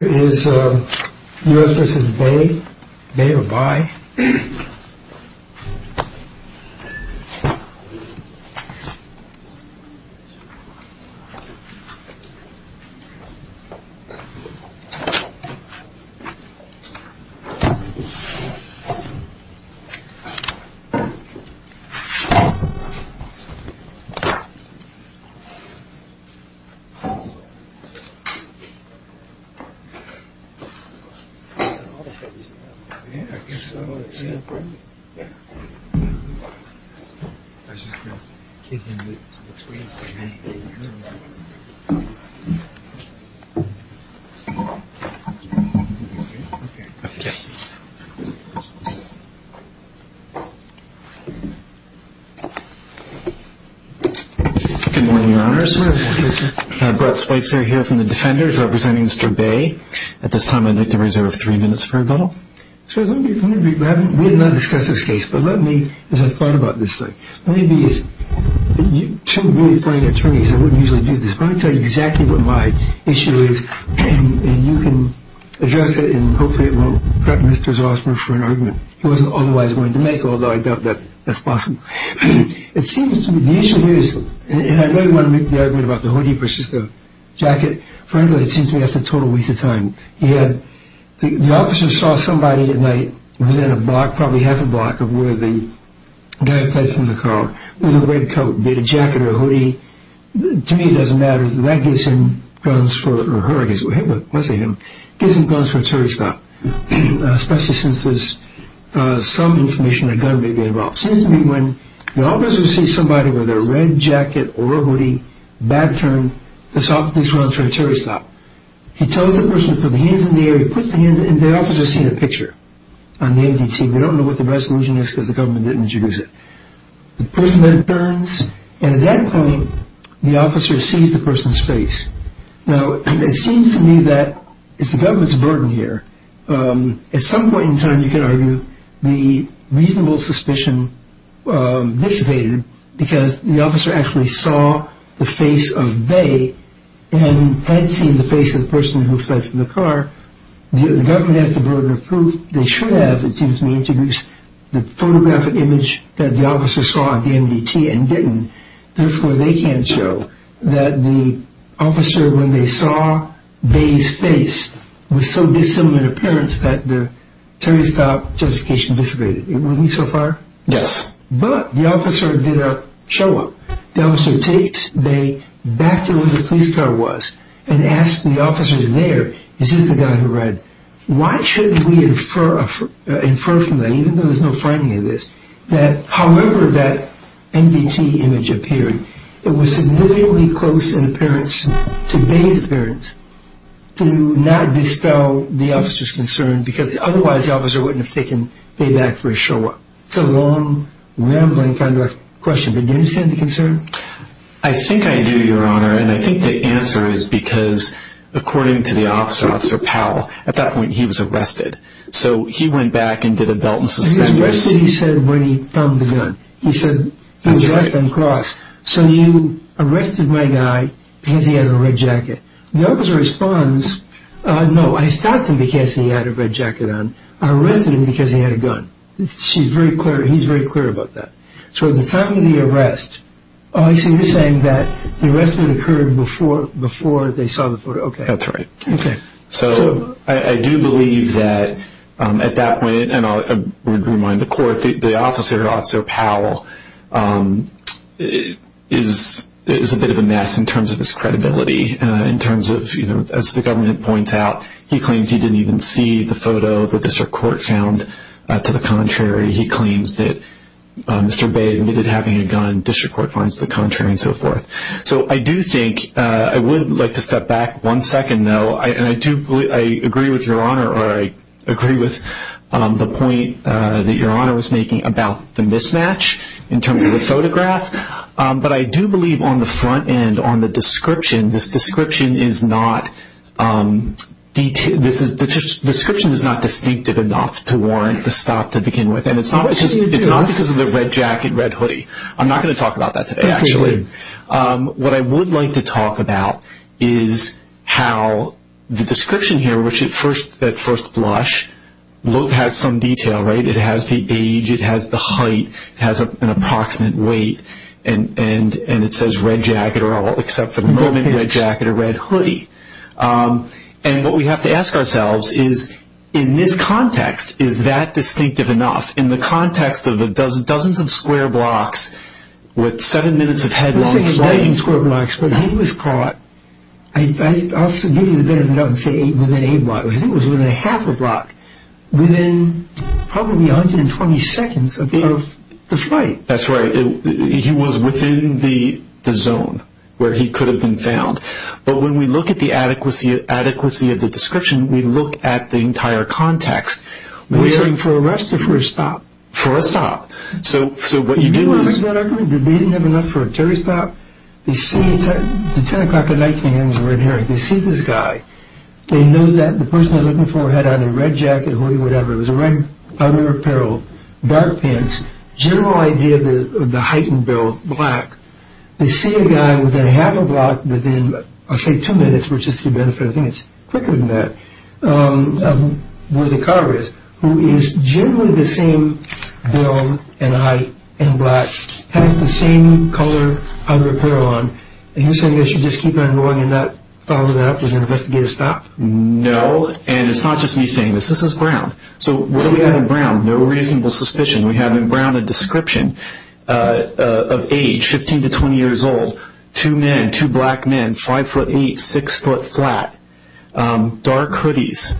Is U.S. v. Bey, Bey or Bey? Good morning, your honors. Brett Spitzer here from the Defenders representing Mr. Bey. At this time, I'd like to reserve three minutes for rebuttal. We have not discussed this case, but let me, as I've thought about this thing, let me be two really fine attorneys, I wouldn't usually do this, but let me tell you exactly what my issue is and you can address it and hopefully it won't threaten Mr. Zossmer for an argument he wasn't otherwise going to make, although I doubt that's possible. It seems to me, the issue here is, and I really want to make the argument about the hoodie versus the jacket, frankly, it seems to me that's a total waste of time. The officer saw somebody at night within a block, probably half a block, of where the guy played from the car with a red coat, be it a jacket or a hoodie, to me it doesn't matter, that gives him guns for, or her, I guess it was him, gives him guns for a tourist stop, especially since there's some information a gun may be involved. It seems to me when the officer sees somebody with a red jacket or a hoodie, bad turn, this officer runs for a tourist stop. He tells the person to put their hands in the air, he puts their hands in the air, and the officer sees a picture on the MDT, we don't know what the resolution is because the government didn't introduce it. The person then turns, and at that point the officer sees the person's face. Now, it seems to me that it's the government's burden here. At some point in time you can argue the reasonable suspicion dissipated because the officer actually saw the face of Bae, and had seen the face of the person who fled from the car. The government has the burden of proof they should have, it seems to me, introduced the photographic image that the officer saw at the MDT and didn't. Therefore they can't show that the officer, when they saw Bae's face, was so dissimilar in appearance that the tourist stop justification dissipated. Wouldn't he so far? Yes. But the officer did a show-up. The officer takes Bae back to where the police car was and asks the officers there, is this the guy who ran? Why shouldn't we infer from that, even though there's no framing of this, that however that MDT image appeared, it was significantly close in appearance to Bae's appearance to not dispel the officer's concern because otherwise the officer wouldn't have taken Bae back for a show-up. It's a long, rambling kind of question, but do you understand the concern? I think I do, Your Honor, and I think the answer is because according to the officer, Officer Powell, at that point he was arrested. So he went back and did a belt-and-suspend race. That's what he said when he found the gun. He said he was arrested on the cross. So you arrested my guy because he had a red jacket. The officer responds, no, I stopped him because he had a red jacket on. I arrested him because he had a gun. He's very clear about that. So at the time of the arrest, oh, so you're saying that the arrest would have occurred before they saw the photo. That's right. Okay. So I do believe that at that point, and I would remind the court, the officer, Officer Powell, is a bit of a mess in terms of his credibility, in terms of, as the government points out, he claims he didn't even see the photo the district court found. To the contrary, he claims that Mr. Bay admitted having a gun. District court finds the contrary and so forth. So I do think I would like to step back one second, though, and I agree with Your Honor or I agree with the point that Your Honor was making about the mismatch in terms of the photograph. But I do believe on the front end, on the description, this description is not distinctive enough to warrant the stop to begin with. And it's not because of the red jacket, red hoodie. I'm not going to talk about that today, actually. What I would like to talk about is how the description here, which at first blush, has some detail, right? It has the age. It has the height. It has an approximate weight. And it says red jacket or all, except for the moment, red jacket or red hoodie. And what we have to ask ourselves is, in this context, is that distinctive enough? In the context of dozens of square blocks with seven minutes of headlong flight. It wasn't a dozen square blocks, but he was caught, I'll give you the better of a doubt and say within a block. I think it was within a half a block, within probably 120 seconds of the flight. That's right. He was within the zone where he could have been found. But when we look at the adequacy of the description, we look at the entire context. Was it for arrest or for a stop? For a stop. So what you do is... They didn't have enough for a 30 stop? They see the 10 o'clock or 9 p.m. red herring. They see this guy. They know that the person they're looking for had on a red jacket, hoodie, whatever. It was a red leather apparel, dark pants. General idea of the height and build, black. They see a guy within a half a block, within, I'll say two minutes, which is to your benefit, I think it's quicker than that, where the car is, who is generally the same build and height and black, has the same color of apparel on. And you're saying they should just keep on going and not follow that up with an investigative stop? No, and it's not just me saying this. This is ground. So what do we have in ground? No reasonable suspicion. We have in ground a description of age, 15 to 20 years old, two men, two black men, five foot eight, six foot flat, dark hoodies.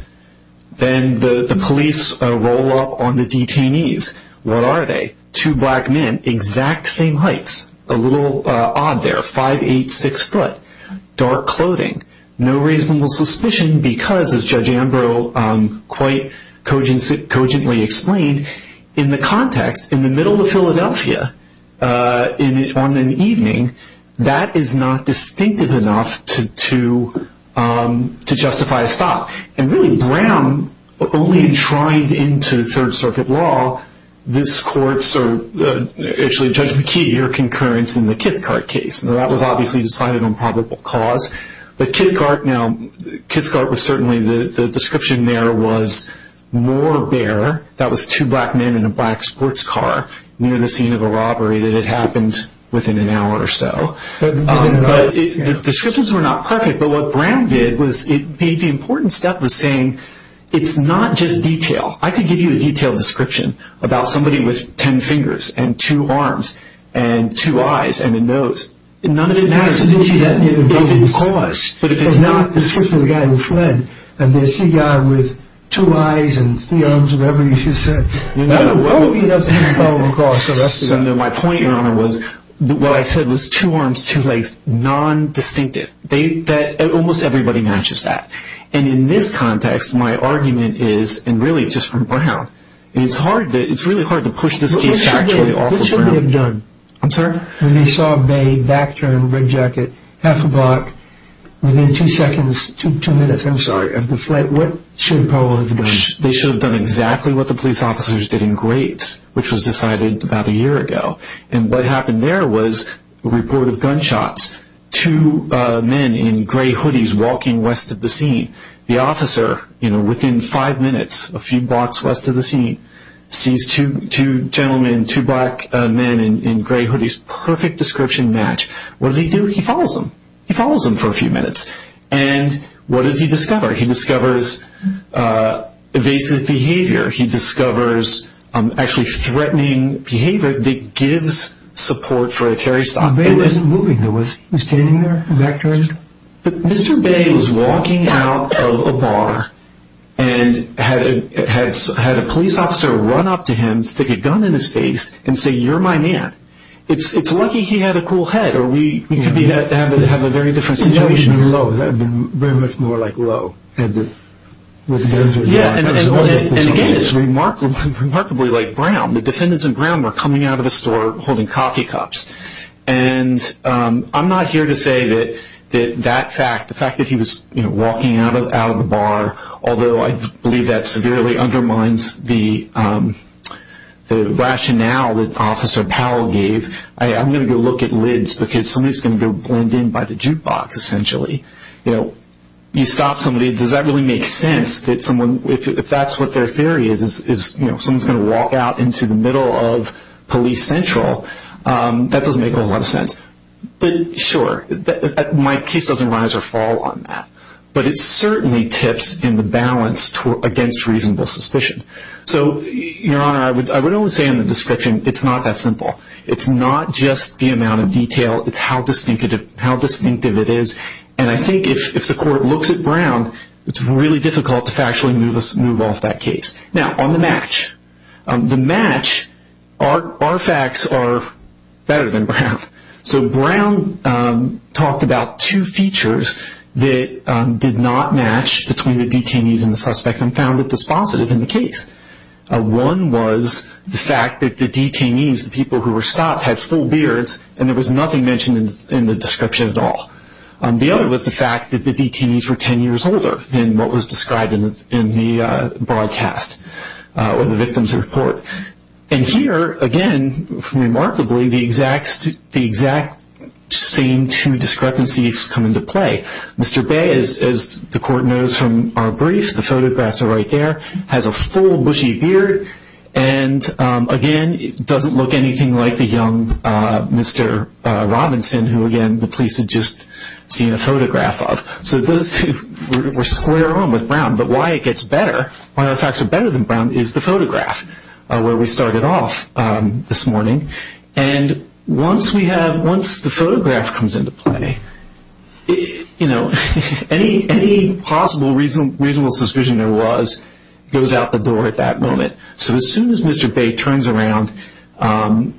Then the police roll up on the detainees. What are they? Two black men, exact same heights, a little odd there, five, eight, six foot, dark clothing. No reasonable suspicion because, as Judge Ambrose quite cogently explained, in the context, in the middle of Philadelphia, on an evening, that is not distinctive enough to justify a stop. And really ground, only enshrined into Third Circuit law, this court's actually Judge McKee, your concurrence in the Kithcart case. That was obviously decided on probable cause. But Kithcart was certainly, the description there was more bare. That was two black men in a black sports car near the scene of a robbery that had happened within an hour or so. But the descriptions were not perfect. But what ground did was it made the important step of saying it's not just detail. I could give you a detailed description about somebody with ten fingers and two arms and two eyes and a nose. None of it matters. But if it's not the description of the guy who fled, and it's the guy with two eyes and three arms, whatever you should say, it doesn't fall across. My point, Your Honor, was what I said was two arms, two legs, non-distinctive. Almost everybody matches that. And in this context, my argument is, and really just from ground, it's really hard to push this case back to the awful ground. What should they have done? I'm sorry? When they saw a bag, back turn, red jacket, half a block, within two seconds, two minutes, I'm sorry, of the flight, what should they probably have done? They should have done exactly what the police officers did in Graves, which was decided about a year ago. And what happened there was a report of gunshots, two men in gray hoodies walking west of the scene. The officer, you know, within five minutes, a few blocks west of the scene, sees two gentlemen, two black men in gray hoodies. Perfect description match. What does he do? He follows them. He follows them for a few minutes. And what does he discover? He discovers evasive behavior. He discovers actually threatening behavior that gives support for a terrorist attack. He wasn't moving. He was standing there, back turned. Mr. Bay was walking out of a bar and had a police officer run up to him, stick a gun in his face, and say, you're my man. It's lucky he had a cool head or we could have a very different situation. That would have been very much more like Lowe. And again, it's remarkably like Brown. The defendants in Brown were coming out of a store holding coffee cups. And I'm not here to say that that fact, the fact that he was walking out of the bar, although I believe that severely undermines the rationale that Officer Powell gave, I'm going to go look at lids because somebody's going to go blend in by the jukebox, essentially. You know, you stop somebody, does that really make sense that someone, if that's what their theory is, is, you know, someone's going to walk out into the middle of Police Central, that doesn't make a whole lot of sense. But, sure, my case doesn't rise or fall on that. But it certainly tips in the balance against reasonable suspicion. So, Your Honor, I would only say in the description it's not that simple. It's not just the amount of detail. It's how distinctive it is. And I think if the court looks at Brown, it's really difficult to factually move off that case. Now, on the match, the match, our facts are better than Brown. So Brown talked about two features that did not match between the detainees and the suspects and found it dispositive in the case. One was the fact that the detainees, the people who were stopped, had full beards, and there was nothing mentioned in the description at all. The other was the fact that the detainees were 10 years older than what was described in the broadcast or the victim's report. And here, again, remarkably, the exact same two discrepancies come into play. Mr. Bay, as the court knows from our brief, the photographs are right there, has a full bushy beard and, again, doesn't look anything like the young Mr. Robinson, who, again, the police had just seen a photograph of. So we're square on with Brown. But why it gets better, why our facts are better than Brown, is the photograph, where we started off this morning. And once the photograph comes into play, any possible reasonable suspicion there was goes out the door at that moment. So as soon as Mr. Bay turns around,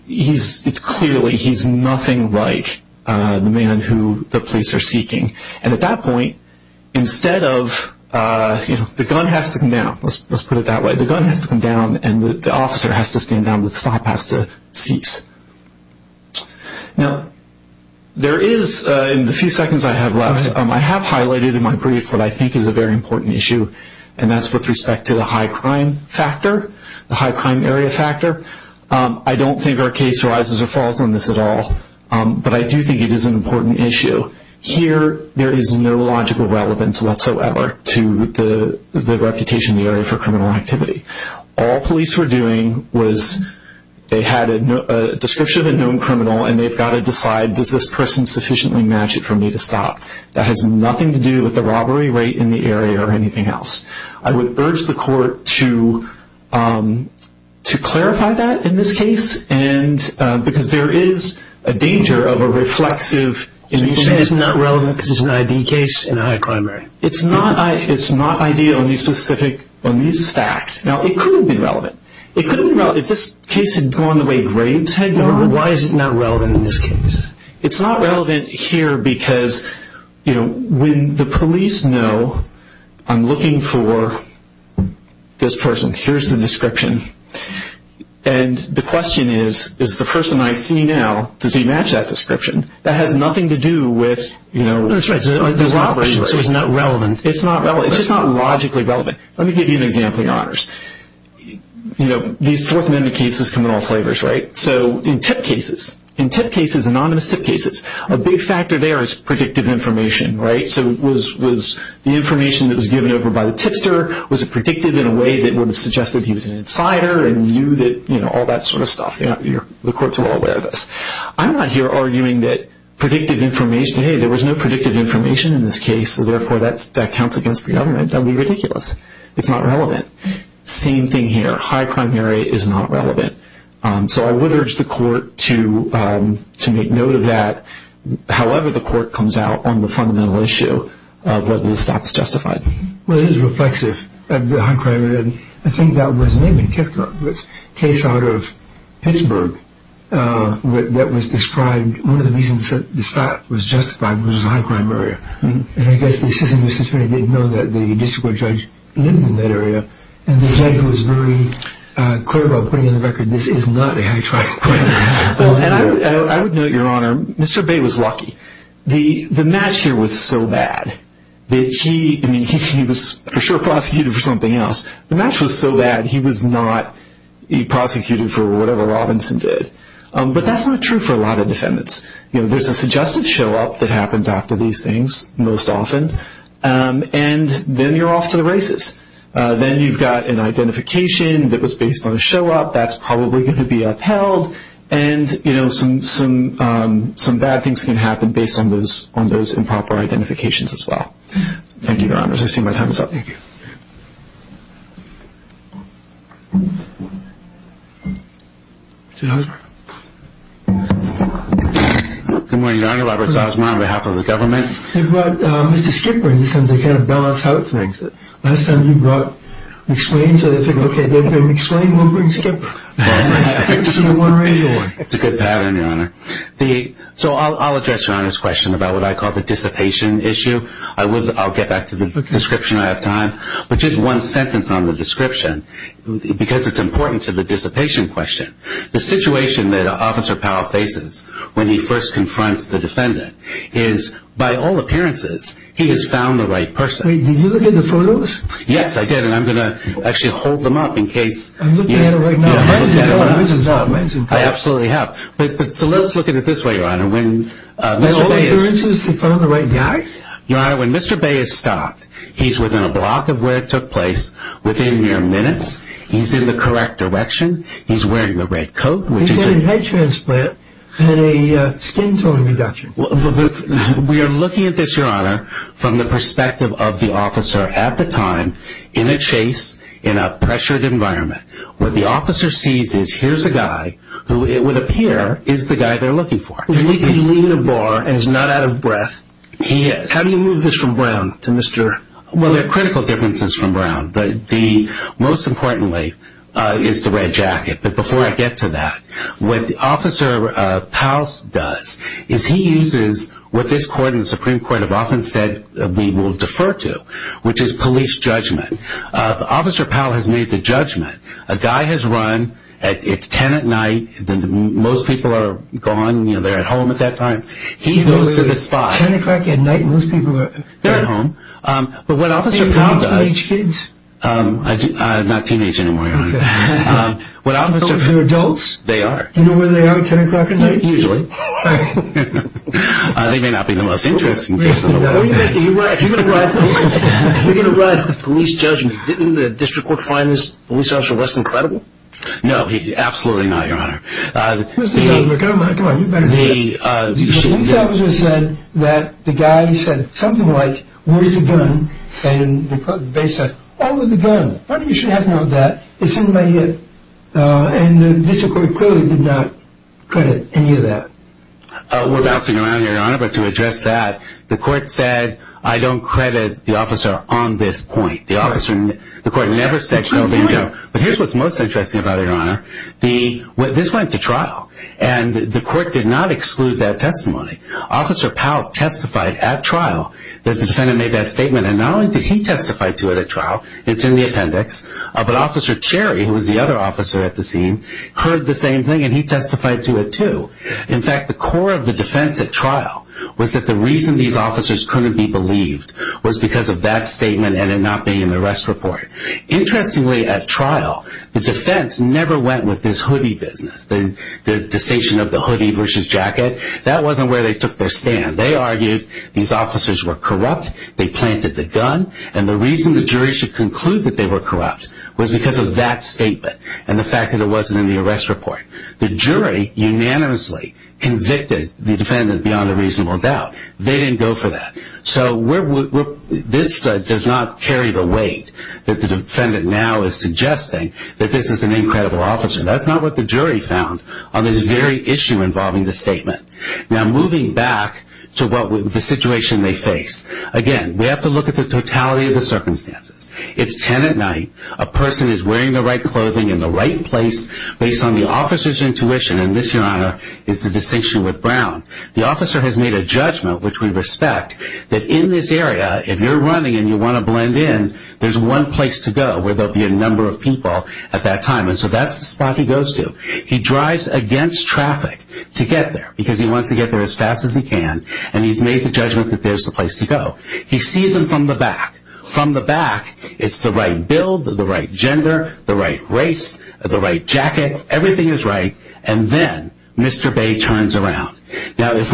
it's clearly he's nothing like the man who the police are seeking. And at that point, instead of, you know, the gun has to come down, let's put it that way, the gun has to come down and the officer has to stand down, the stop has to cease. Now, there is, in the few seconds I have left, I have highlighted in my brief what I think is a very important issue, and that's with respect to the high crime factor, the high crime area factor. I don't think our case rises or falls on this at all, but I do think it is an important issue. Here, there is no logical relevance whatsoever to the reputation of the area for criminal activity. All police were doing was they had a description of a known criminal and they've got to decide, does this person sufficiently match it for me to stop? That has nothing to do with the robbery rate in the area or anything else. I would urge the court to clarify that in this case because there is a danger of a reflexive image. So you're saying it's not relevant because it's an ID case in a high crime area? It's not ID on these facts. Now, it could have been relevant. If this case had gone the way Graves had gone, why is it not relevant in this case? It's not relevant here because when the police know I'm looking for this person, here's the description, and the question is, is the person I see now, does he match that description? That has nothing to do with the robbery rate. So it's not relevant? It's not relevant. It's just not logically relevant. Let me give you an example, Your Honors. These Fourth Amendment cases come in all flavors, right? So in tip cases, anonymous tip cases, a big factor there is predictive information, right? So was the information that was given over by the tipster, was it predictive in a way that would have suggested he was an insider and knew that, you know, all that sort of stuff? The courts are all aware of this. I'm not here arguing that predictive information, hey, there was no predictive information in this case, so therefore that counts against the government. That would be ridiculous. It's not relevant. Same thing here. High crime area is not relevant. So I would urge the court to make note of that. However, the court comes out on the fundamental issue of whether the stop is justified. Well, it is reflexive, the high crime area. I think that was a case out of Pittsburgh that was described, one of the reasons that the stop was justified was the high crime area. And I guess the assistant district attorney didn't know that the district court judge lived in that area, and the judge was very clear about putting on the record this is not a high crime area. Well, and I would note, Your Honor, Mr. Bay was lucky. The match here was so bad that he, I mean, he was for sure prosecuted for something else. The match was so bad he was not prosecuted for whatever Robinson did. But that's not true for a lot of defendants. You know, there's a suggestive show-up that happens after these things most often, and then you're off to the races. Then you've got an identification that was based on a show-up that's probably going to be upheld, and, you know, some bad things can happen based on those improper identifications as well. Thank you, Your Honors. I see my time is up. Thank you. Good morning, Your Honor. Robert Salzman on behalf of the government. You brought Mr. Skipper in because they kind of balance out things. Last time you brought McSwain, so they think, okay, they're McSwain, we'll bring Skipper. It's a good pattern, Your Honor. So I'll address Your Honor's question about what I call the dissipation issue. I'll get back to the description. I have time. But just one sentence on the description because it's important to the dissipation question. The situation that Officer Powell faces when he first confronts the defendant is, by all appearances, he has found the right person. Wait, did you look at the photos? Yes, I did, and I'm going to actually hold them up in case. I'm looking at it right now. I absolutely have. So let's look at it this way, Your Honor. By all appearances, he found the right guy? Your Honor, when Mr. Bay is stopped, he's within a block of where it took place within mere minutes. He's in the correct direction. He's wearing a red coat. He's having a head transplant and a skin tone reduction. We are looking at this, Your Honor, from the perspective of the officer at the time in a chase in a pressured environment. What the officer sees is here's a guy who it would appear is the guy they're looking for. He's leaving a bar and he's not out of breath. He is. How do you move this from Brown to Mr. Powell? Well, there are critical differences from Brown. Most importantly is the red jacket. But before I get to that, what Officer Powell does is he uses what this court and the Supreme Court have often said we will defer to, which is police judgment. Officer Powell has made the judgment. A guy has run. It's ten at night. Most people are gone. They're at home at that time. He goes to the spot. Ten o'clock at night, most people are at home. But what Officer Powell does... Are you a teenager? I'm not a teenager anymore, Your Honor. Are you talking to adults? They are. Do you know where they are at ten o'clock at night? Usually. They may not be the most interesting person. If you're going to run a police judgment, didn't the district court find this police officer less than credible? No, absolutely not, Your Honor. Who's the judge? The police officer said that the guy said something like, where's the gun? And they said, oh, the gun. Why do you have to know that? It's in my head. And the district court clearly did not credit any of that. We're bouncing around here, Your Honor, but to address that, the court said I don't credit the officer on this point. The court never said no. But here's what's most interesting about it, Your Honor. This went to trial, and the court did not exclude that testimony. Officer Powell testified at trial that the defendant made that statement. And not only did he testify to it at trial, it's in the appendix, but Officer Cherry, who was the other officer at the scene, heard the same thing, and he testified to it too. In fact, the core of the defense at trial was that the reason these officers couldn't be believed was because of that statement and it not being in the rest report. Interestingly, at trial, the defense never went with this hoodie business, the distinction of the hoodie versus jacket. That wasn't where they took their stand. They argued these officers were corrupt, they planted the gun, and the reason the jury should conclude that they were corrupt was because of that statement and the fact that it wasn't in the arrest report. The jury unanimously convicted the defendant beyond a reasonable doubt. They didn't go for that. So this does not carry the weight that the defendant now is suggesting that this is an incredible officer. That's not what the jury found on this very issue involving the statement. Now, moving back to the situation they face. Again, we have to look at the totality of the circumstances. It's 10 at night, a person is wearing the right clothing in the right place, based on the officer's intuition, and this, Your Honor, is the distinction with Brown. The officer has made a judgment, which we respect, that in this area, if you're running and you want to blend in, there's one place to go where there will be a number of people at that time, and so that's the spot he goes to. He drives against traffic to get there because he wants to get there as fast as he can, and he's made the judgment that there's the place to go. He sees them from the back. From the back, it's the right build, the right gender, the right race, the right jacket. Everything is right, and then Mr. Bay turns around. Now, if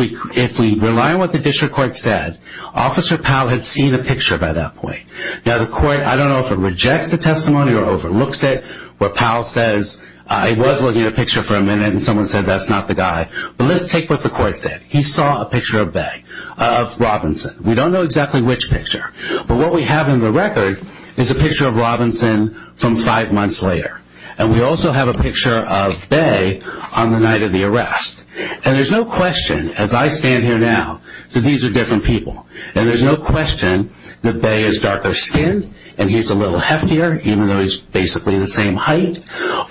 we rely on what the district court said, Officer Powell had seen a picture by that point. Now, the court, I don't know if it rejects the testimony or overlooks it, but Powell says, I was looking at a picture for a minute, and someone said, that's not the guy, but let's take what the court said. He saw a picture of Robinson. We don't know exactly which picture, but what we have in the record is a picture of Robinson from five months later, and we also have a picture of Bay on the night of the arrest, and there's no question, as I stand here now, that these are different people, and there's no question that Bay is darker skinned and he's a little heftier, even though he's basically the same height,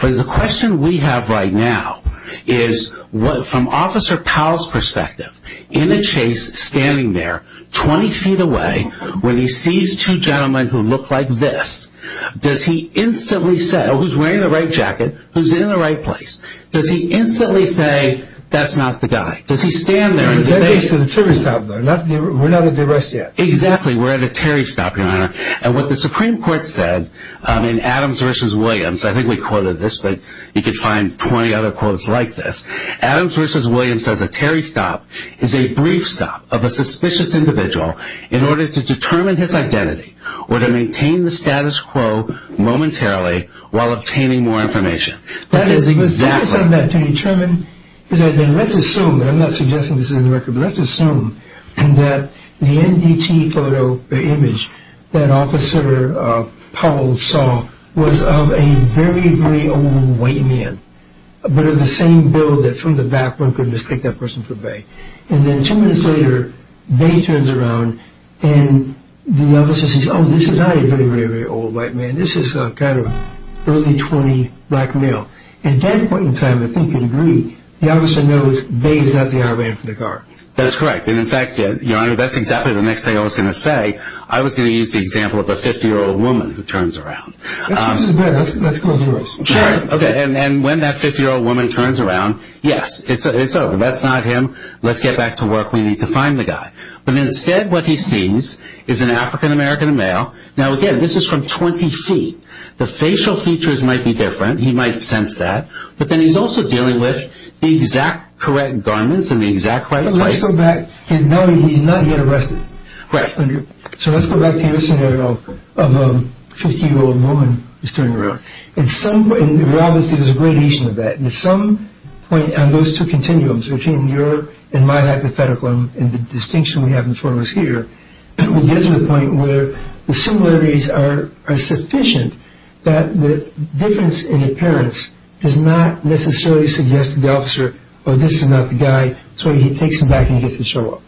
but the question we have right now is, from Officer Powell's perspective, in a chase, standing there, 20 feet away, when he sees two gentlemen who look like this, does he instantly say, who's wearing the right jacket, who's in the right place, does he instantly say, that's not the guy? Does he stand there and say... We're not at the arrest yet. Exactly, we're at a Terry stop, Your Honor, and what the Supreme Court said in Adams v. Williams, I think we quoted this, but you can find 20 other quotes like this, Adams v. Williams says, a Terry stop is a brief stop of a suspicious individual in order to determine his identity or to maintain the status quo momentarily while obtaining more information. That is exactly... The status of that to determine... Let's assume, I'm not suggesting this is in the record, but let's assume that the NDT photo or image that Officer Powell saw was of a very, very old white man, but of the same build that from the background could mistake that person for Bay, and then two minutes later, Bay turns around, and the officer says, oh, this is not a very, very old white man, this is a kind of early 20 black male, and at that point in time, I think you'd agree, the officer knows Bay is not the IRB for the guard. That's correct, and in fact, Your Honor, that's exactly the next thing I was going to say. I was going to use the example of a 50-year-old woman who turns around. That's good, let's go with yours. Okay, and when that 50-year-old woman turns around, yes, it's over, that's not him, let's get back to work, we need to find the guy. But instead what he sees is an African-American male. Now, again, this is from 20 feet. The facial features might be different, he might sense that, but then he's also dealing with the exact correct garments in the exact right place. Let's go back, now he's not yet arrested. Correct. So let's go back to your scenario of a 50-year-old woman who's turning around. In some way, there's a gradation of that, and at some point on those two continuums, between your and my hypothetical and the distinction we have before us here, we get to the point where the similarities are sufficient that the difference in appearance does not necessarily suggest to the officer, oh, this is not the guy, so he takes him back and he gets to show up.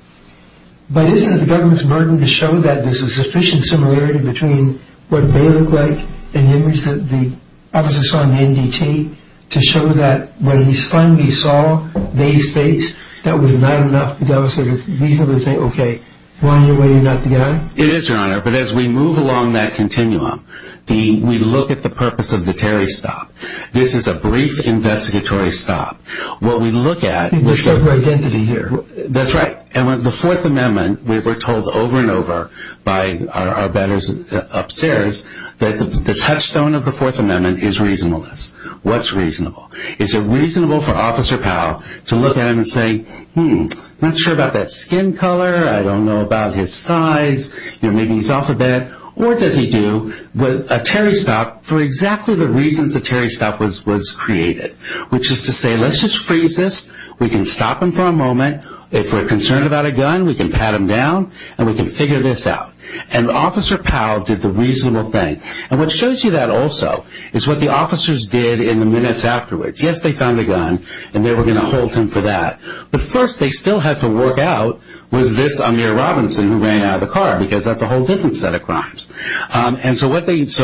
But isn't it the government's burden to show that there's a sufficient similarity between what they look like and the image that the officer saw in the NDT to show that when he finally saw they's face, that was not enough to be able to reasonably say, okay, why are you weighing up the guy? It is, Your Honor, but as we move along that continuum, we look at the purpose of the Terry stop. This is a brief investigatory stop. What we look at is the identity here. That's right, and with the Fourth Amendment, we were told over and over by our betters upstairs that the touchstone of the Fourth Amendment is reasonableness. What's reasonable? Is it reasonable for Officer Powell to look at him and say, hmm, I'm not sure about that skin color, I don't know about his size, maybe he's off a bit, or does he do a Terry stop for exactly the reasons the Terry stop was created, which is to say, let's just freeze this, we can stop him for a moment. If we're concerned about a gun, we can pat him down and we can figure this out. And Officer Powell did the reasonable thing. And what shows you that also is what the officers did in the minutes afterwards. Yes, they found a gun and they were going to hold him for that, but first they still had to work out, was this Amir Robinson who ran out of the car, because that's a whole different set of crimes. And so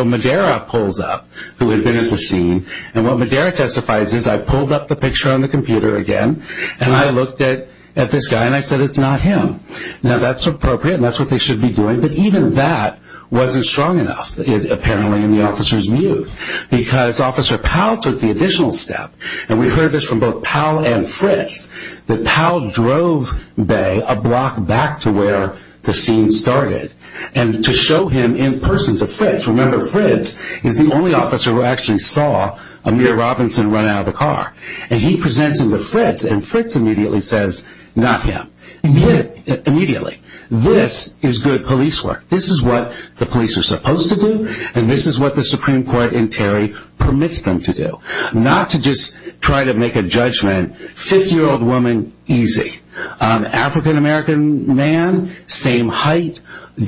Madera pulls up, who had been at the scene, and what Madera testifies is, I pulled up the picture on the computer again, and I looked at this guy and I said, it's not him. Now that's appropriate and that's what they should be doing, but even that wasn't strong enough, apparently, in the officer's view. Because Officer Powell took the additional step, and we heard this from both Powell and Fritz, that Powell drove Bay a block back to where the scene started, and to show him in person to Fritz. Remember, Fritz is the only officer who actually saw Amir Robinson run out of the car. And he presents him to Fritz, and Fritz immediately says, not him. Immediately. This is good police work. This is what the police are supposed to do, and this is what the Supreme Court in Terry permits them to do. Not to just try to make a judgment, 50-year-old woman, easy. African-American man, same height,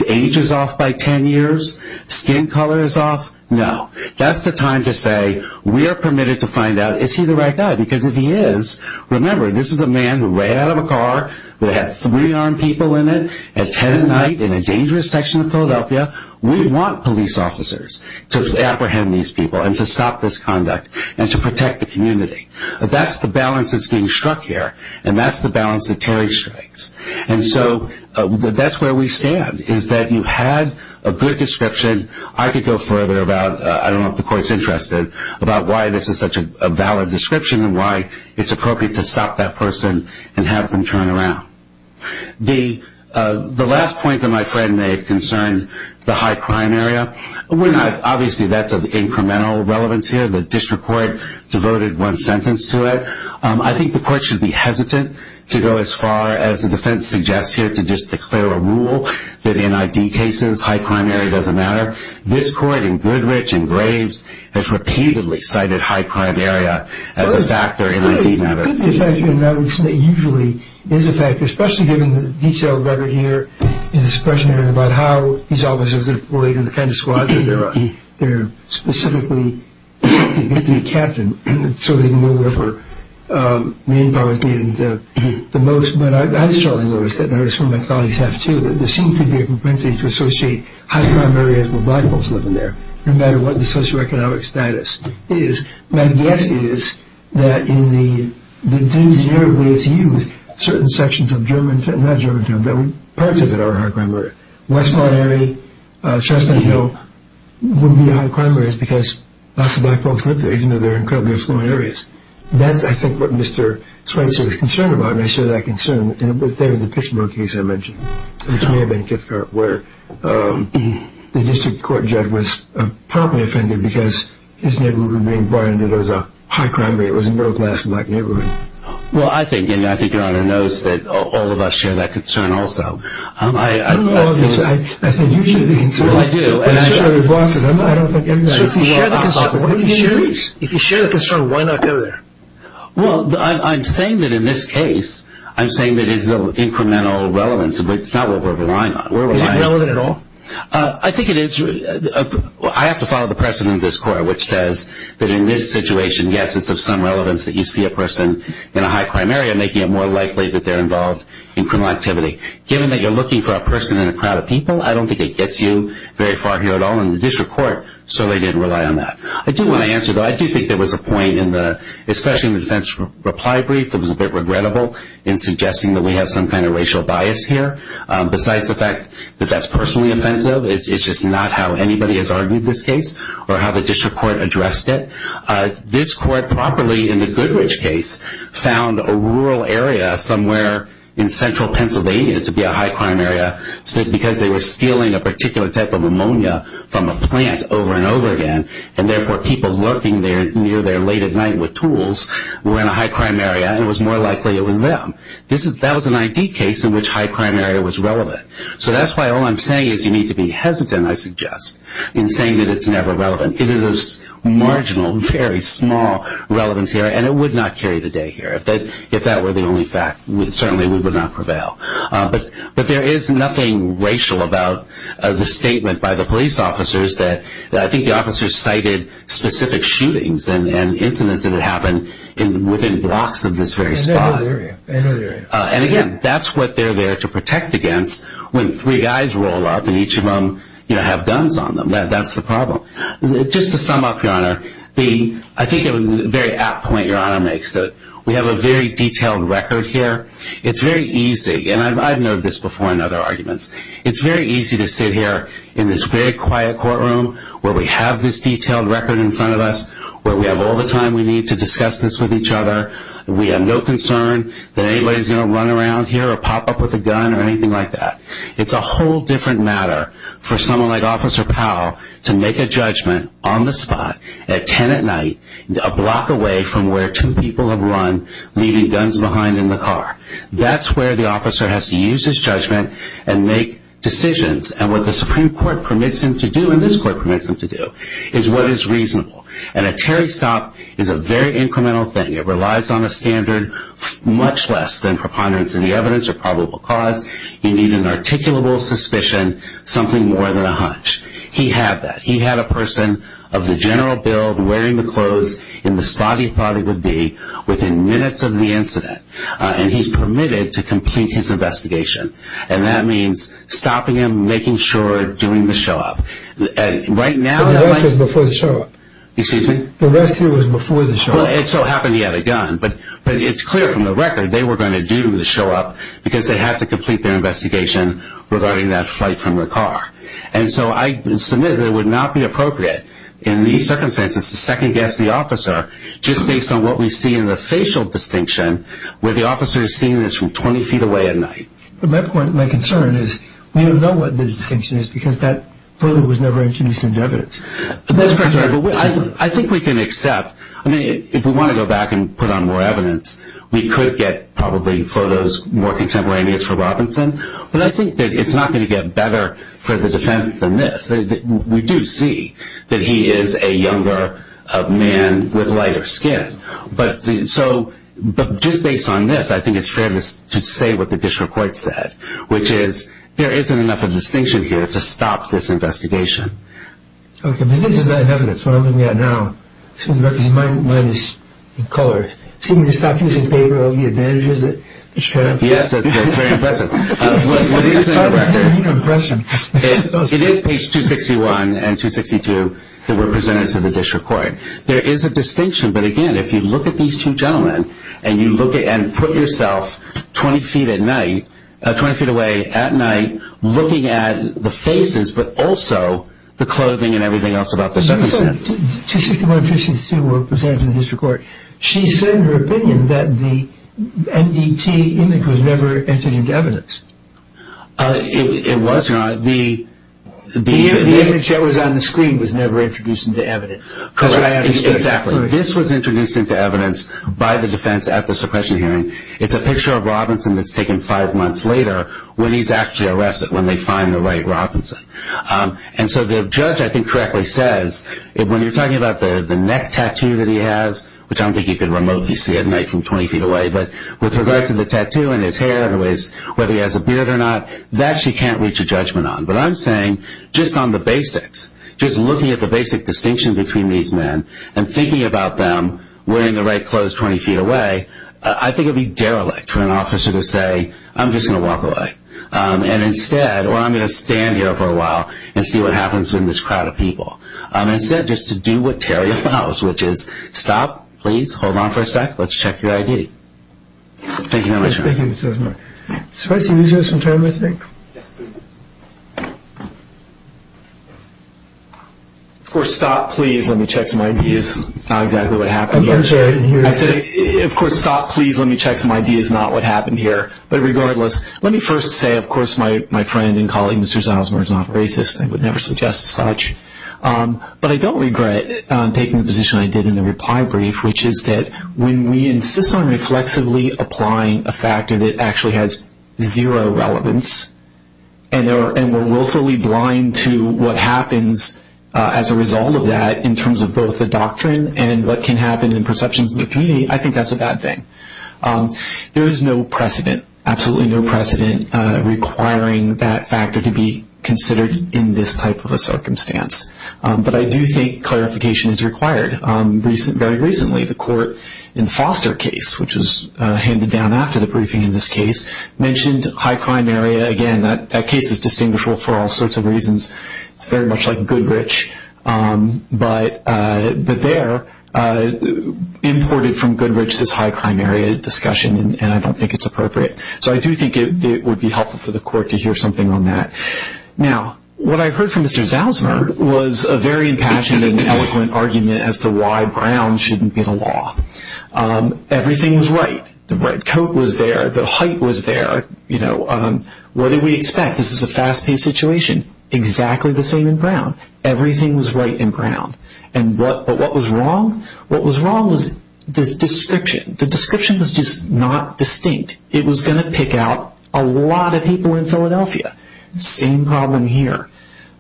age is off by 10 years, skin color is off. No. That's the time to say, we are permitted to find out, is he the right guy? Because if he is, remember, this is a man who ran out of a car, that had three armed people in it, at 10 at night, in a dangerous section of Philadelphia. We want police officers to apprehend these people, and to stop this conduct, and to protect the community. That's the balance that's being struck here, and that's the balance that Terry strikes. And so that's where we stand, is that you had a good description. I could go further about, I don't know if the court's interested, about why this is such a valid description, and why it's appropriate to stop that person and have them turn around. The last point that my friend made concerned the high crime area. Obviously, that's of incremental relevance here. The district court devoted one sentence to it. I think the court should be hesitant to go as far as the defense suggests here, to just declare a rule that in ID cases, high crime area doesn't matter. This court in Goodrich, in Graves, has repeatedly cited high crime area as a factor in ID matters. It could be a factor, and that usually is a factor, especially given the detailed record here in the suppression area, about how these officers are going to be related to the kind of squadron they're on. They're specifically designed to be captained, so they can go wherever manpower is needed the most. But I certainly noticed that, and I heard some of my colleagues have too, that there seems to be a propensity to associate high crime areas with black folks living there, no matter what the socioeconomic status is. My guess is that in the generic way it's used, certain sections of German town, not German town, but parts of it are a high crime area. West Point area, Chestnut Hill, would be high crime areas, because lots of black folks live there, even though they're incredibly affluent areas. That's, I think, what Mr. Schweitzer is concerned about, and I share that concern. In the Pittsburgh case I mentioned, which may have been a gift card, where the district court judge was promptly offended because his neighborhood was being brought into what was a high crime area. It was a middle-class black neighborhood. Well, I think Your Honor knows that all of us share that concern also. I don't know about this, but I think you share the concern. Well, I do. I don't think everybody does. So if you share the concern, why not go there? Well, I'm saying that in this case, I'm saying that it's of incremental relevance, but it's not what we're relying on. Is it relevant at all? I think it is. I have to follow the precedent of this court, which says that in this situation, yes, it's of some relevance that you see a person in a high crime area, making it more likely that they're involved in criminal activity. Given that you're looking for a person in a crowd of people, I don't think it gets you very far here at all, and the district court certainly didn't rely on that. I do want to answer, though. I do think there was a point, especially in the defense reply brief, that was a bit regrettable in suggesting that we have some kind of racial bias here. Besides the fact that that's personally offensive, it's just not how anybody has argued this case or how the district court addressed it. This court properly, in the Goodrich case, found a rural area somewhere in central Pennsylvania to be a high crime area because they were stealing a particular type of ammonia from a plant over and over again, and therefore people lurking near there late at night with tools were in a high crime area, and it was more likely it was them. That was an ID case in which high crime area was relevant. So that's why all I'm saying is you need to be hesitant, I suggest, in saying that it's never relevant. It is a marginal, very small relevance here, and it would not carry the day here. If that were the only fact, certainly we would not prevail. But there is nothing racial about the statement by the police officers that I think the officers cited specific shootings and incidents that had happened within blocks of this very spot. And, again, that's what they're there to protect against when three guys roll up and each of them have guns on them. That's the problem. Just to sum up, Your Honor, I think a very apt point Your Honor makes, that we have a very detailed record here. It's very easy, and I've noted this before in other arguments, it's very easy to sit here in this very quiet courtroom where we have this detailed record in front of us, where we have all the time we need to discuss this with each other, and we have no concern that anybody's going to run around here or pop up with a gun or anything like that. It's a whole different matter for someone like Officer Powell to make a judgment on the spot, at 10 at night, a block away from where two people have run, leaving guns behind in the car. That's where the officer has to use his judgment and make decisions. And what the Supreme Court permits him to do, and this Court permits him to do, is what is reasonable. And a Terry stop is a very incremental thing. It relies on a standard much less than preponderance in the evidence or probable cause. You need an articulable suspicion, something more than a hunch. He had that. He had a person of the general build, wearing the clothes in the spot he thought it would be, within minutes of the incident. And he's permitted to complete his investigation. And that means stopping him, making sure, doing the show-up. The rest was before the show-up. Excuse me? The rest of it was before the show-up. Well, it so happened he had a gun. But it's clear from the record they were going to do the show-up because they had to complete their investigation regarding that flight from the car. And so I submitted that it would not be appropriate in these circumstances to second-guess the officer just based on what we see in the facial distinction where the officer is seen as from 20 feet away at night. But my concern is we don't know what the distinction is because that photo was never introduced into evidence. That's correct. I think we can accept. I mean, if we want to go back and put on more evidence, we could get probably photos more contemporaneous for Robinson. But I think that it's not going to get better for the defense than this. We do see that he is a younger man with lighter skin. But just based on this, I think it's fair to say what the district court said, which is there isn't enough of a distinction here to stop this investigation. Okay. Maybe this is not evidence. What I'm looking at now, seeing the records, mine is in color. See when you stop using paper, all the advantages that you have. Yes, that's very impressive. It is page 261 and 262 that were presented to the district court. There is a distinction. But, again, if you look at these two gentlemen and put yourself 20 feet away at night looking at the faces but also the clothing and everything else about the circumstance. You said 261 and 262 were presented to the district court. She said in her opinion that the MDT image was never introduced into evidence. It was. The image that was on the screen was never introduced into evidence. Correct. Exactly. This was introduced into evidence by the defense at the suppression hearing. It's a picture of Robinson that's taken five months later when he's actually arrested when they find the right Robinson. And so the judge, I think, correctly says, when you're talking about the neck tattoo that he has, which I don't think you can remotely see at night from 20 feet away, but with regard to the tattoo and his hair and whether he has a beard or not, that she can't reach a judgment on. But I'm saying just on the basics, just looking at the basic distinction between these men and thinking about them wearing the right clothes 20 feet away, I think it would be derelict for an officer to say, I'm just going to walk away. And instead, or I'm going to stand here for a while and see what happens with this crowd of people. Instead, just to do what Terry allows, which is, stop, please, hold on for a sec, let's check your ID. Thank you very much. Thank you, Mr. Osmer. Should I see these guys from time, I think? Yes, please. Of course, stop, please, let me check some IDs. It's not exactly what happened here. I'm sorry. I said, of course, stop, please, let me check some IDs. It's not what happened here. But regardless, let me first say, of course, my friend and colleague, Mr. Osmer, is not racist. I would never suggest such. But I don't regret taking the position I did in the reply brief, which is that when we insist on reflexively applying a factor that actually has zero relevance and we're willfully blind to what happens as a result of that in terms of both the doctrine and what can happen in perceptions in the community, I think that's a bad thing. There is no precedent, absolutely no precedent, requiring that factor to be considered in this type of a circumstance. But I do think clarification is required. Very recently, the court in the Foster case, which was handed down after the briefing in this case, mentioned high crime area. Again, that case is distinguishable for all sorts of reasons. It's very much like Goodrich. But there, imported from Goodrich, this high crime area discussion, and I don't think it's appropriate. So I do think it would be helpful for the court to hear something on that. Now, what I heard from Mr. Osmer was a very impassioned and eloquent argument as to why Brown shouldn't be the law. Everything was right. The red coat was there. The height was there. What did we expect? This is a fast-paced situation. Exactly the same in Brown. Everything was right in Brown. But what was wrong? What was wrong was the description. The description was just not distinct. It was going to pick out a lot of people in Philadelphia. Same problem here.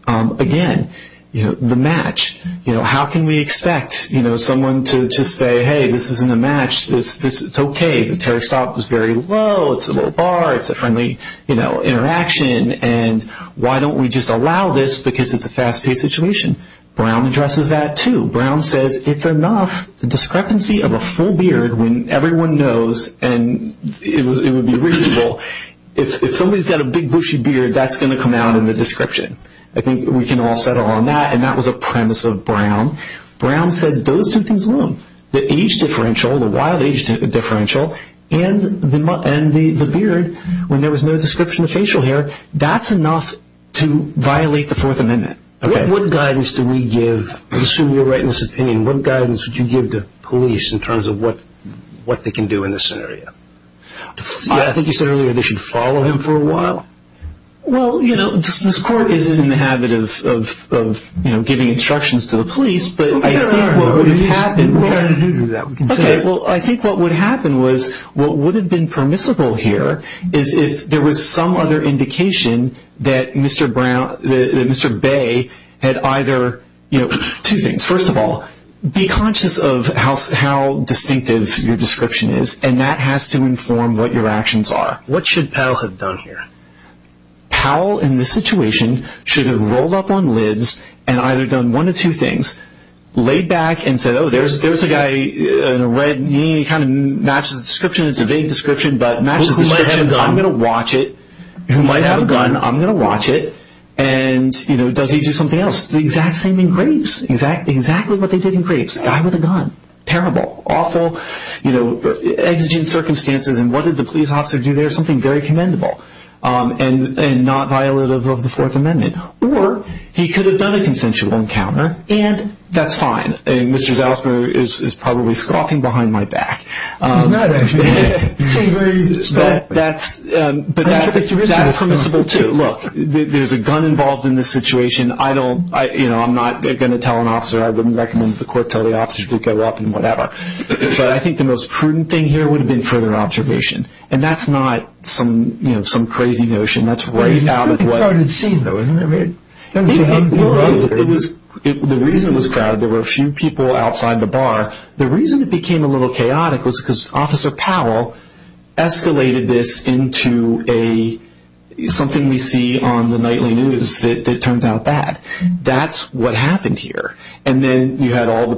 Again, the match. How can we expect someone to just say, hey, this isn't a match. It's okay. The terror stop was very low. It's a low bar. It's a friendly interaction. And why don't we just allow this because it's a fast-paced situation? Brown addresses that too. Brown says it's enough. The discrepancy of a full beard when everyone knows, and it would be reasonable, if somebody's got a big, bushy beard, that's going to come out in the description. I think we can all settle on that, and that was a premise of Brown. Brown said those two things alone, the age differential, the wild age differential, and the beard, when there was no description of facial hair, that's enough to violate the Fourth Amendment. What guidance do we give? I assume you're right in this opinion. What guidance would you give the police in terms of what they can do in this scenario? I think you said earlier they should follow him for a while. Well, you know, this Court isn't in the habit of giving instructions to the police, but I think what would have happened was what would have been permissible here is if there was some other indication that Mr. Bay had either, you know, two things. First of all, be conscious of how distinctive your description is, and that has to inform what your actions are. What should Powell have done here? Powell, in this situation, should have rolled up on lids and either done one of two things, laid back and said, oh, there's a guy in a red, he kind of matches the description, it's a vague description, but matches the description. I'm going to watch it. He might have a gun. I'm going to watch it. And, you know, does he do something else? The exact same in Graves. Exactly what they did in Graves. A guy with a gun. Terrible. Awful. You know, exigent circumstances, and what did the police officer do there? Something very commendable and not violative of the Fourth Amendment. Or he could have done a consensual encounter, and that's fine. And Mr. Zalzberg is probably scoffing behind my back. He's not, actually. But that's permissible, too. Look, there's a gun involved in this situation. I don't, you know, I'm not going to tell an officer. I wouldn't recommend that the court tell the officer to go up and whatever. But I think the most prudent thing here would have been further observation. And that's not some crazy notion. That's way out of what. It's a pretty crowded scene, though, isn't it? The reason it was crowded, there were a few people outside the bar. The reason it became a little chaotic was because Officer Powell escalated this into something we see on the nightly news that turns out bad. That's what happened here. And then you had all the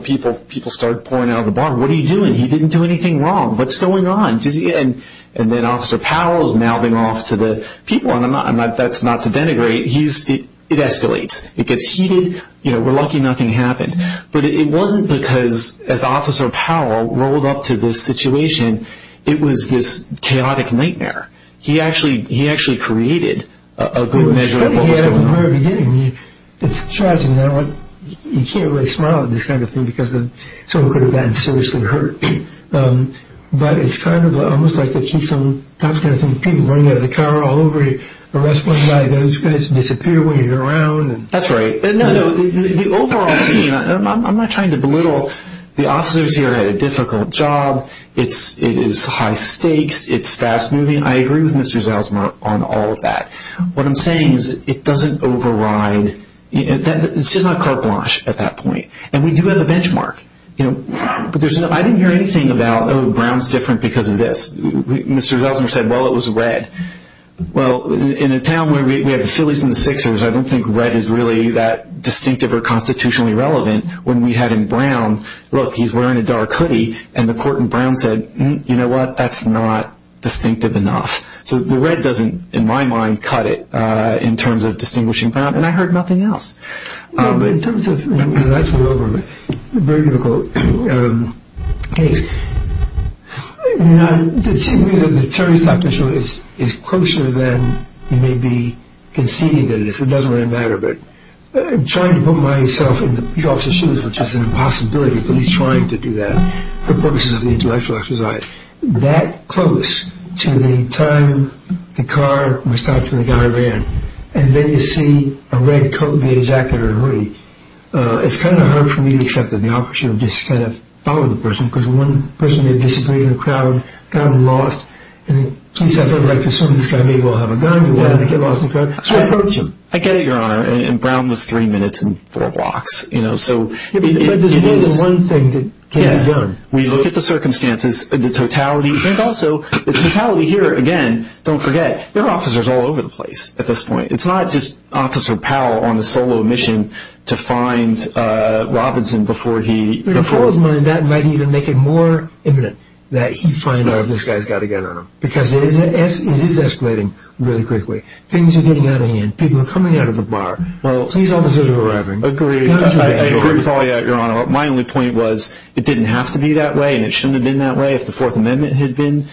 people start pouring out of the bar. What are you doing? He didn't do anything wrong. What's going on? And then Officer Powell is mouthing off to the people. That's not to denigrate. It escalates. It gets heated. You know, we're lucky nothing happened. But it wasn't because, as Officer Powell rolled up to this situation, it was this chaotic nightmare. He actually created a good measure of what was going on. It's tragic. You can't really smile at this kind of thing because someone could have gotten seriously hurt. But it's kind of almost like a keystone. That's the kind of thing that people running out of the car all over you, arrest one guy, then he's going to disappear when you get around. That's right. The overall scene, I'm not trying to belittle. The officers here had a difficult job. It is high stakes. It's fast moving. I agree with Mr. Zelsmer on all of that. What I'm saying is it doesn't override. It's just not carte blanche at that point. And we do have a benchmark. I didn't hear anything about, oh, Brown's different because of this. Mr. Zelsmer said, well, it was red. Well, in a town where we have the Phillies and the Sixers, I don't think red is really that distinctive or constitutionally relevant. When we had him brown, look, he's wearing a dark hoodie, and the court in Brown said, you know what, that's not distinctive enough. So the red doesn't, in my mind, cut it in terms of distinguishing Brown. And I heard nothing else. In terms of, that's a very difficult case. To me, the attorney's doctor show is closer than you may be conceding that it is. It doesn't really matter. But I'm trying to put myself in the officer's shoes, which is an impossibility, but he's trying to do that for purposes of the intellectual exercise. That close to the time the car was stopped and the guy ran, and then you see a red coat and a jacket and a hoodie, it's kind of hard for me to accept that the officer just kind of followed the person because one person may have disappeared in the crowd, got lost. In the case I'd rather like to assume this guy may well have a gun, but why did he get lost in the crowd? So I approach him. I get it, Your Honor. And Brown was three minutes and four blocks. But there's only one thing that can be done. We look at the circumstances, the totality. And also, the totality here, again, don't forget, there are officers all over the place at this point. It's not just Officer Powell on a solo mission to find Robinson before he before. In Powell's mind, that might even make it more imminent that he find out if this guy's got a gun on him because it is escalating really quickly. Things are getting out of hand. People are coming out of a bar. Well, these officers are arriving. I agree. I agree with all of you, Your Honor. My only point was it didn't have to be that way, and it shouldn't have been that way if the Fourth Amendment had been.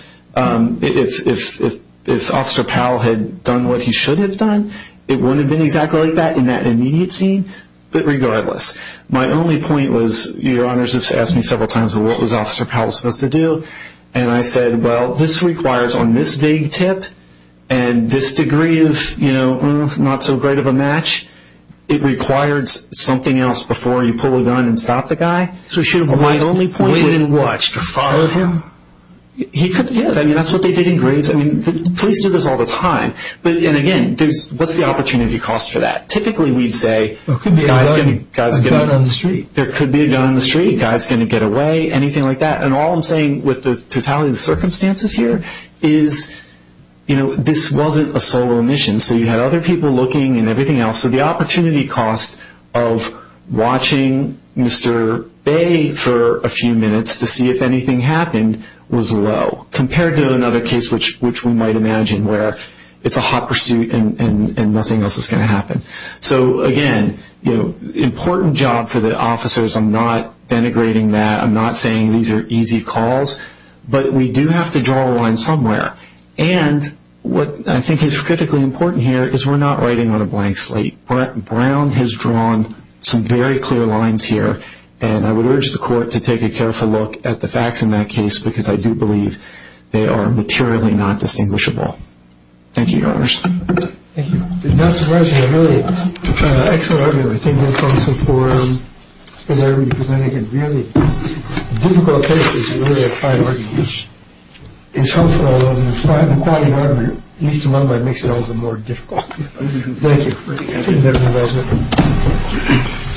If Officer Powell had done what he should have done, it wouldn't have been exactly like that in that immediate scene. But regardless, my only point was, Your Honors have asked me several times, well, what was Officer Powell supposed to do? And I said, well, this requires on this vague tip and this degree of, you know, not so great of a match, it requires something else before you pull a gun and stop the guy. So he should have waited and watched or followed him? He could have. Yeah, I mean, that's what they did in graves. I mean, police do this all the time. And, again, what's the opportunity cost for that? Typically we'd say there could be a gun on the street, a guy's going to get away, anything like that. And all I'm saying with the totality of the circumstances here is, you know, this wasn't a solo mission. So you had other people looking and everything else. So the opportunity cost of watching Mr. Bay for a few minutes to see if anything happened was low, compared to another case which we might imagine where it's a hot pursuit and nothing else is going to happen. So, again, you know, important job for the officers. I'm not denigrating that. I'm not saying these are easy calls. But we do have to draw a line somewhere. And what I think is critically important here is we're not writing on a blank slate. Brown has drawn some very clear lines here. And I would urge the court to take a careful look at the facts in that case because I do believe they are materially not distinguishable. Thank you, Your Honors. Thank you. It's not surprising. A really excellent argument. I think that's also for Larry because I think a really difficult case is really a fine argument. It's helpful, although the fine argument, at least in my mind, makes it all the more difficult. Thank you.